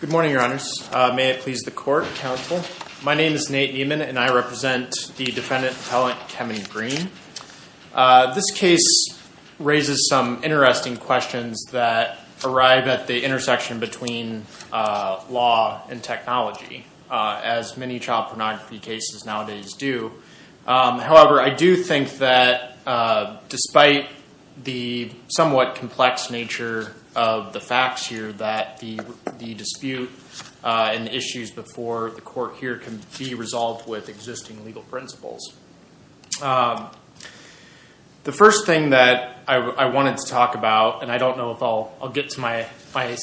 Good morning, your honors. May it please the court, counsel. My name is Nate Nieman and I represent the defendant appellant Kevin Green. This case raises some interesting questions that arrive at the intersection between law and technology, as many child pornography cases nowadays do. However, I do think that despite the somewhat complex nature of the facts here, that the dispute and issues before the court here can be resolved with existing legal principles. The first thing that I wanted to talk about, and I don't know if I'll get to my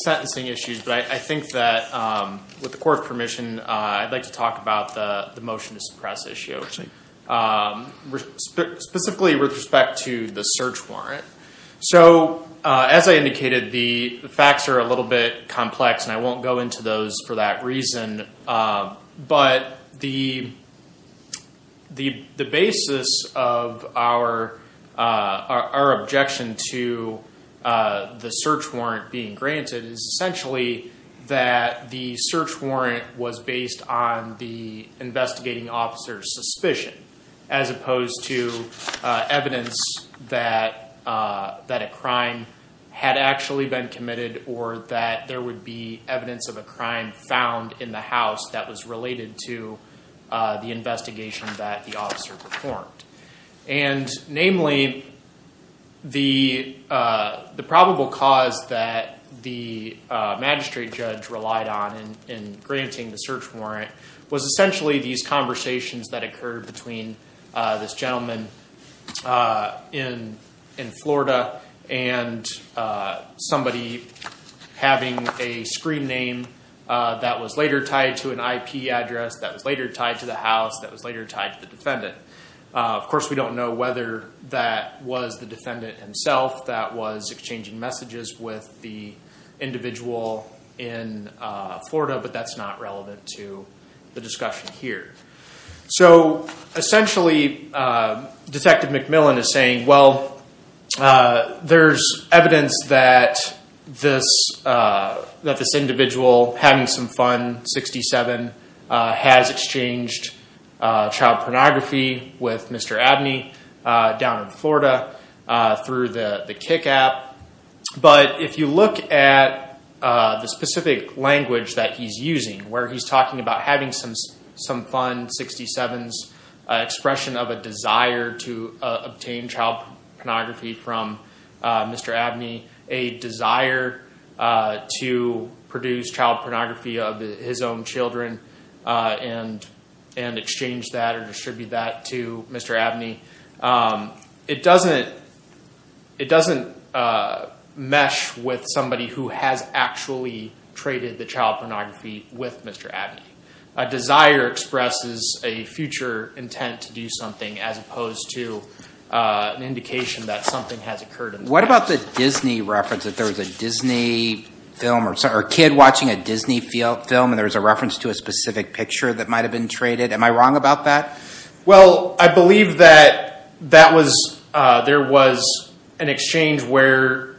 sentencing issues, but I think that with the court's permission, I'd like to talk about the motion to suppress issue. Specifically with respect to the search warrant. So, as I indicated, the facts are a little bit complex and I won't go into those for that reason. But the basis of our objection to the search warrant being granted is essentially that the search warrant was based on the investigating officer's suspicion. As opposed to evidence that a crime had actually been committed or that there would be evidence of a crime found in the house that was related to the investigation that the officer performed. Namely, the probable cause that the magistrate judge relied on in granting the search warrant was essentially these conversations that occurred between this gentleman in Florida and somebody having a screen name that was later tied to an IP address, that was later tied to the house, that was later tied to the defendant. Of course, we don't know whether that was the defendant himself that was exchanging messages with the individual in Florida, but that's not relevant to the discussion here. So, essentially, Detective McMillan is saying, well, there's evidence that this individual having some fun, 67, has exchanged child pornography with Mr. Abney down in Florida through the Kik app. But if you look at the specific language that he's using, where he's talking about having some fun, 67's expression of a desire to obtain child pornography from Mr. Abney, a desire to produce child pornography of his own children and exchange that or distribute that to Mr. Abney. It doesn't mesh with somebody who has actually traded the child pornography with Mr. Abney. A desire expresses a future intent to do something as opposed to an indication that something has occurred in the past. What about the Disney reference, that there was a Disney film or a kid watching a Disney film and there was a reference to a specific picture that might have been traded? Am I wrong about that? Well, I believe that there was an exchange where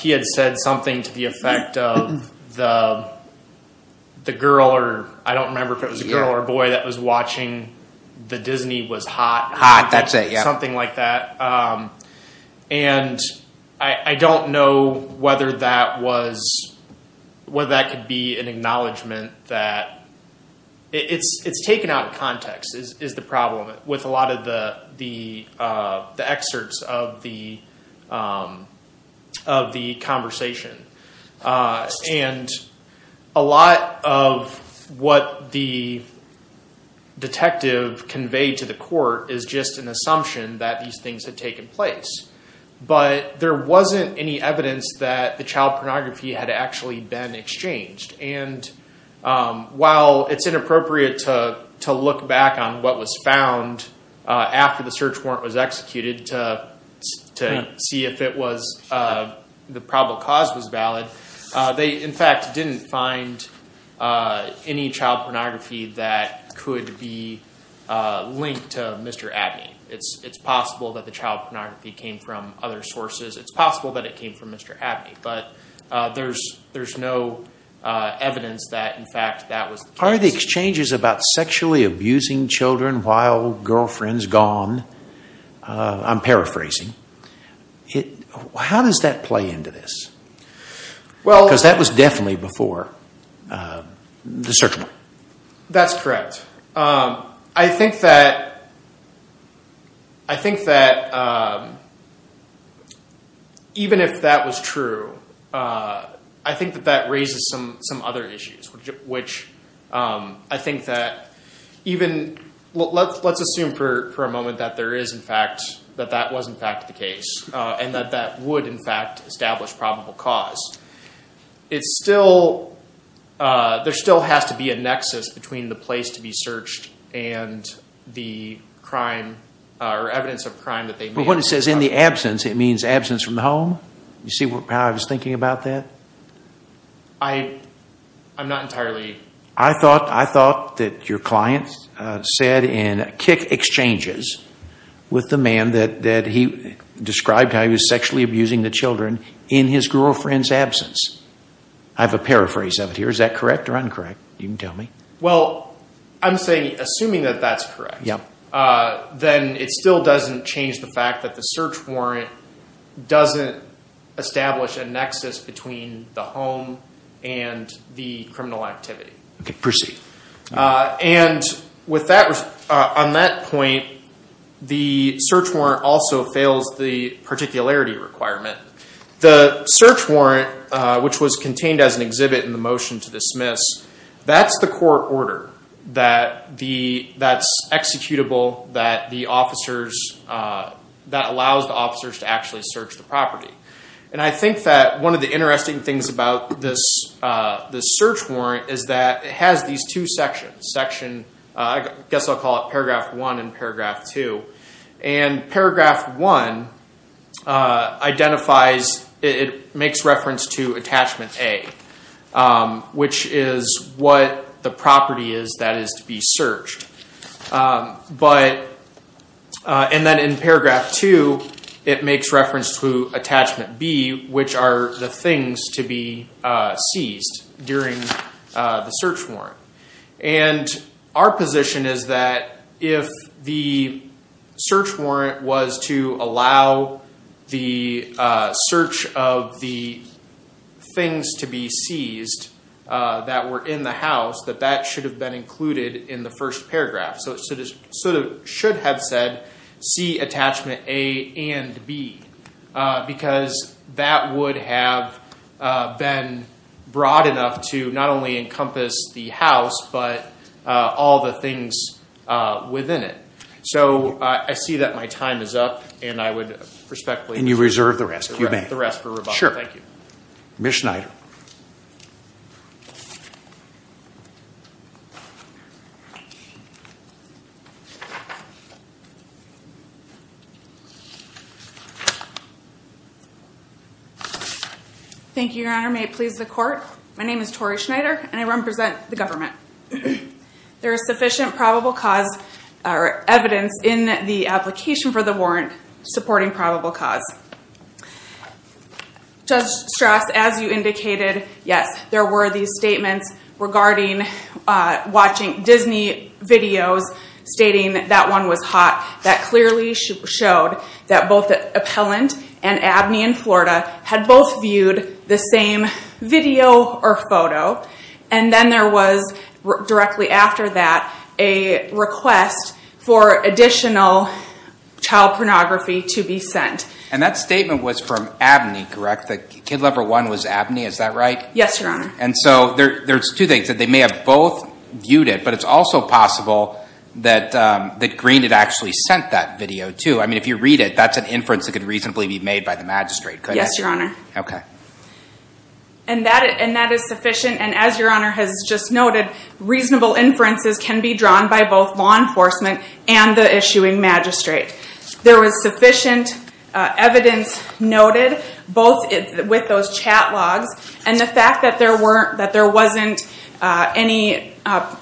he had said something to the effect of the girl or I don't remember if it was a girl or a boy that was watching the Disney was hot. Hot, that's it. Something like that. And I don't know whether that could be an acknowledgement that it's taken out of context is the problem with a lot of the excerpts of the conversation. And a lot of what the detective conveyed to the court is just an assumption that these things had taken place. But there wasn't any evidence that the child pornography had actually been exchanged. And while it's inappropriate to look back on what was found after the search warrant was executed to see if the probable cause was valid. They, in fact, didn't find any child pornography that could be linked to Mr. Abney. It's possible that the child pornography came from other sources. It's possible that it came from Mr. Abney. But there's no evidence that, in fact, that was the case. Are the exchanges about sexually abusing children while girlfriends gone? I'm paraphrasing. How does that play into this? Because that was definitely before the search warrant. That's correct. I think that even if that was true, I think that that raises some other issues, which I think that even let's assume for a moment that there is, in fact, that that was, in fact, the case. And that that would, in fact, establish probable cause. It's still, there still has to be a nexus between the place to be searched and the crime or evidence of crime that they made. But when it says in the absence, it means absence from the home? You see how I was thinking about that? I'm not entirely. I thought that your client said in exchanges with the man that he described how he was sexually abusing the children in his girlfriend's absence. I have a paraphrase of it here. Is that correct or incorrect? You can tell me. I'm saying, assuming that that's correct, then it still doesn't change the fact that the search warrant doesn't establish a nexus between the home and the criminal activity. Proceed. And with that, on that point, the search warrant also fails the particularity requirement. The search warrant, which was contained as an exhibit in the motion to dismiss, that's the court order that's executable, that allows the officers to actually search the property. And I think that one of the interesting things about this search warrant is that it has these two sections. I guess I'll call it paragraph one and paragraph two. And paragraph one identifies, it makes reference to attachment A, which is what the property is that is to be searched. And then in paragraph two, it makes reference to attachment B, which are the things to be seized during the search warrant. And our position is that if the search warrant was to allow the search of the things to be seized that were in the house, that that should have been included in the first paragraph. So it should have said, see attachment A and B, because that would have been broad enough to not only encompass the house, but all the things within it. So I see that my time is up, and I would respectfully- And you reserve the rest. The rest for rebuttal. Sure. Thank you. Ms. Schneider. Thank you, your honor. May it please the court. My name is Tori Schneider, and I represent the government. There is sufficient probable cause evidence in the application for the warrant supporting probable cause. Judge Strass, as you indicated, yes, there were these statements regarding watching Disney videos stating that one was hot. That clearly showed that both Appellant and Abney in Florida had both viewed the same video or photo. And then there was, directly after that, a request for additional child pornography to be sent. And that statement was from Abney, correct? The kid lover one was Abney, is that right? Yes, your honor. And so there's two things, that they may have both viewed it, but it's also possible that Green had actually sent that video, too. I mean, if you read it, that's an inference that could reasonably be made by the magistrate, correct? Yes, your honor. Okay. And that is sufficient, and as your honor has just noted, reasonable inferences can be drawn by both law enforcement and the issuing magistrate. There was sufficient evidence noted, both with those chat logs, and the fact that there wasn't any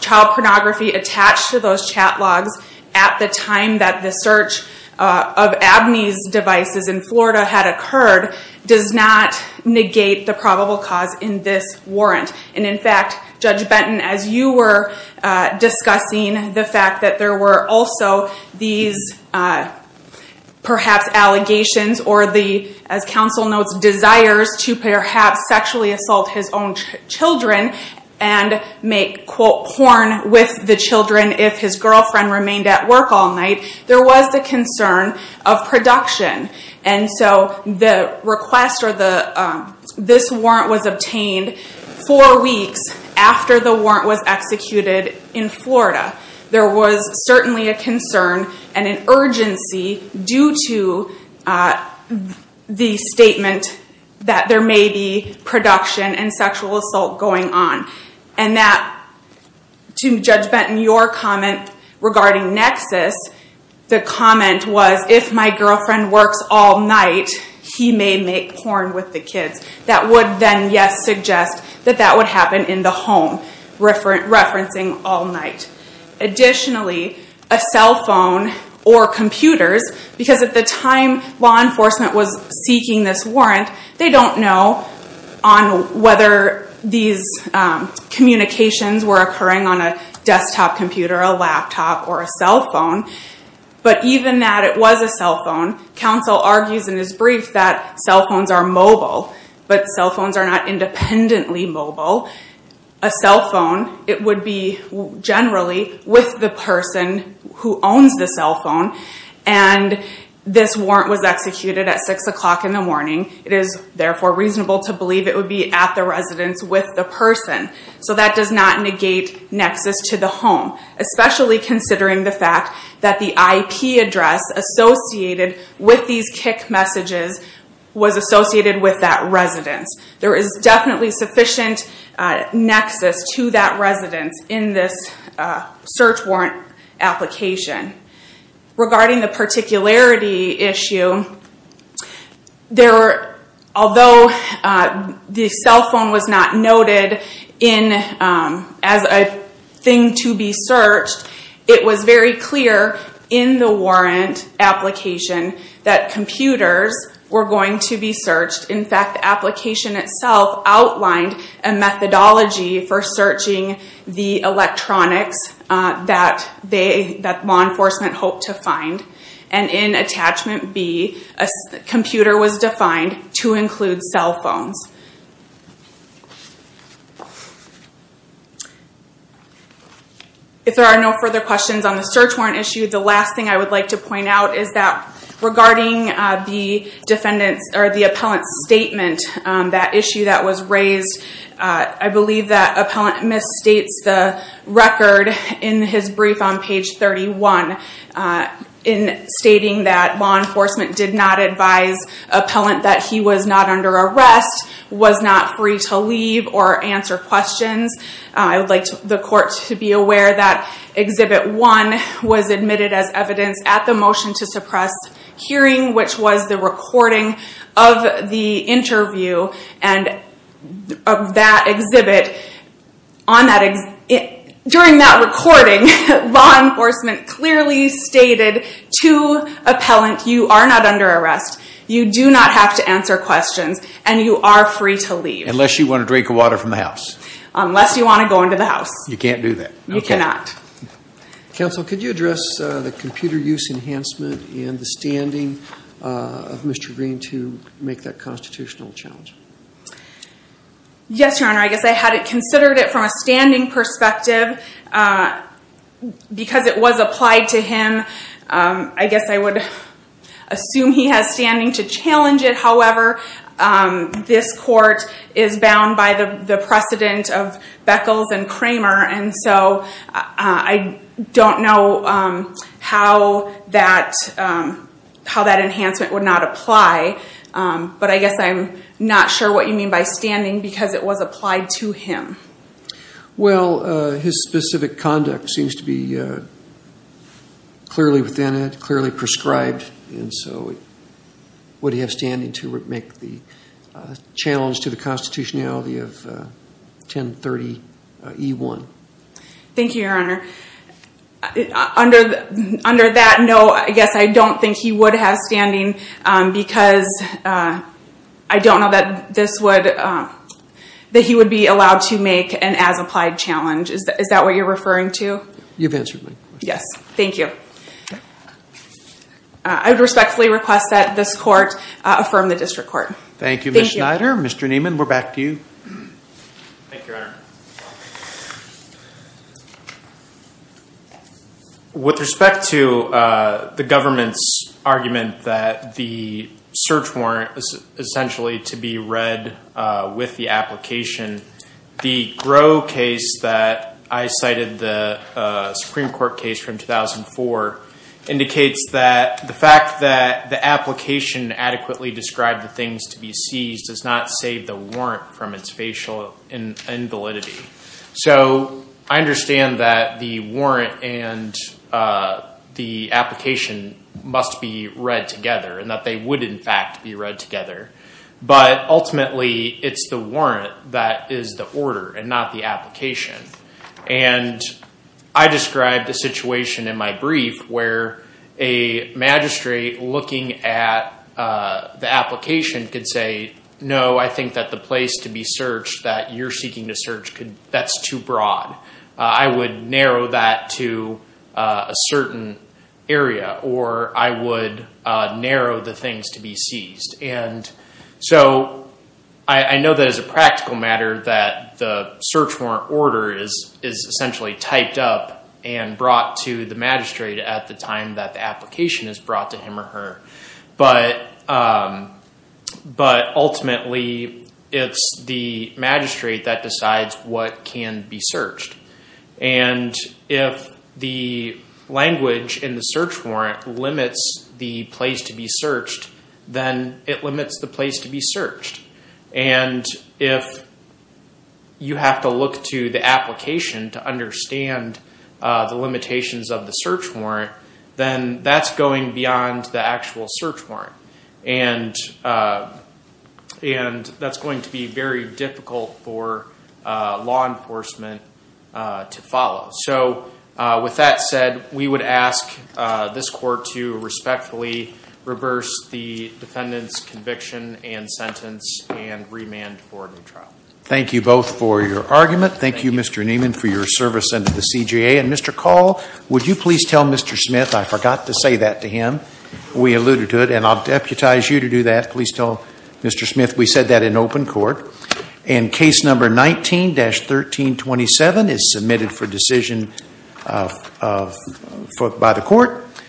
child pornography attached to those chat logs at the time that the search of Abney's devices in Florida had occurred, does not negate the probable cause in this warrant. And in fact, Judge Benton, as you were discussing the fact that there were also these perhaps allegations, or the, as counsel notes, desires to perhaps sexually assault his own children and make, quote, porn with the children if his girlfriend remained at work all night, there was the concern of production. And so the request, or this warrant was obtained four weeks after the warrant was executed in Florida. There was certainly a concern and an urgency due to the statement that there may be production and sexual assault going on. And that, to Judge Benton, your comment regarding Nexus, the comment was, if my girlfriend works all night, he may make porn with the kids. That would then, yes, suggest that that would happen in the home, referencing all night. Additionally, a cell phone or computers, because at the time law enforcement was seeking this warrant, they don't know on whether these communications were occurring on a desktop computer, a laptop, or a cell phone. But even that it was a cell phone, counsel argues in his brief that cell phones are mobile. But cell phones are not independently mobile. A cell phone, it would be generally with the person who owns the cell phone. And this warrant was executed at 6 o'clock in the morning. It is therefore reasonable to believe it would be at the residence with the person. So that does not negate Nexus to the home. Especially considering the fact that the IP address associated with these kick messages was associated with that residence. There is definitely sufficient Nexus to that residence in this search warrant application. Regarding the particularity issue, although the cell phone was not noted as a thing to be searched, it was very clear in the warrant application that computers were going to be searched. In fact, the application itself outlined a methodology for searching the electronics that law enforcement hoped to find. And in Attachment B, a computer was defined to include cell phones. If there are no further questions on the search warrant issue, the last thing I would like to point out is that regarding the appellant's statement, that issue that was raised, I believe that appellant misstates the record in his brief on page 31. In stating that law enforcement did not advise appellant that he was not under arrest, was not free to leave or answer questions. I would like the court to be aware that Exhibit 1 was admitted as evidence at the motion to suppress hearing, which was the recording of the interview of that exhibit. During that recording, law enforcement clearly stated to appellant, you are not under arrest, you do not have to answer questions, and you are free to leave. Unless you want to drink water from the house. Unless you want to go into the house. You can't do that. You cannot. Counsel, could you address the computer use enhancement and the standing of Mr. Green to make that constitutional challenge? Yes, your honor. I guess I had considered it from a standing perspective. Because it was applied to him, I guess I would assume he has standing to challenge it. However, this court is bound by the precedent of Beckles and Kramer, and so I don't know how that enhancement would not apply. But I guess I'm not sure what you mean by standing because it was applied to him. Well, his specific conduct seems to be clearly within it, clearly prescribed, and so would he have standing to make the challenge to the constitutionality of 1030E1? Thank you, your honor. Under that note, I guess I don't think he would have standing because I don't know that he would be allowed to make an as-applied challenge. Is that what you're referring to? You've answered my question. Yes, thank you. I would respectfully request that this court affirm the district court. Thank you, Ms. Schneider. Mr. Nieman, we're back to you. Thank you, your honor. With respect to the government's argument that the search warrant was essentially to be read with the application, the Groh case that I cited, the Supreme Court case from 2004, indicates that the fact that the application adequately described the things to be seized does not save the warrant from its facial invalidity. So I understand that the warrant and the application must be read together and that they would in fact be read together, but ultimately it's the warrant that is the order and not the application. And I described a situation in my brief where a magistrate looking at the application could say, no, I think that the place to be searched that you're seeking to search, that's too broad. I would narrow that to a certain area or I would narrow the things to be seized. And so I know that as a practical matter that the search warrant order is essentially typed up and brought to the magistrate at the time that the application is brought to him or her. But ultimately it's the magistrate that decides what can be searched. And if the language in the search warrant limits the place to be searched, then it limits the place to be searched. And if you have to look to the application to understand the limitations of the search warrant, then that's going beyond the actual search warrant. And that's going to be very difficult for law enforcement to follow. So with that said, we would ask this court to respectfully reverse the defendant's conviction and sentence and remand for a new trial. Thank you both for your argument. Thank you, Mr. Neiman, for your service under the CJA. And Mr. Call, would you please tell Mr. Smith, I forgot to say that to him, we alluded to it, and I'll deputize you to do that. Please tell Mr. Smith we said that in open court. And case number 19-1327 is submitted for decision by the court.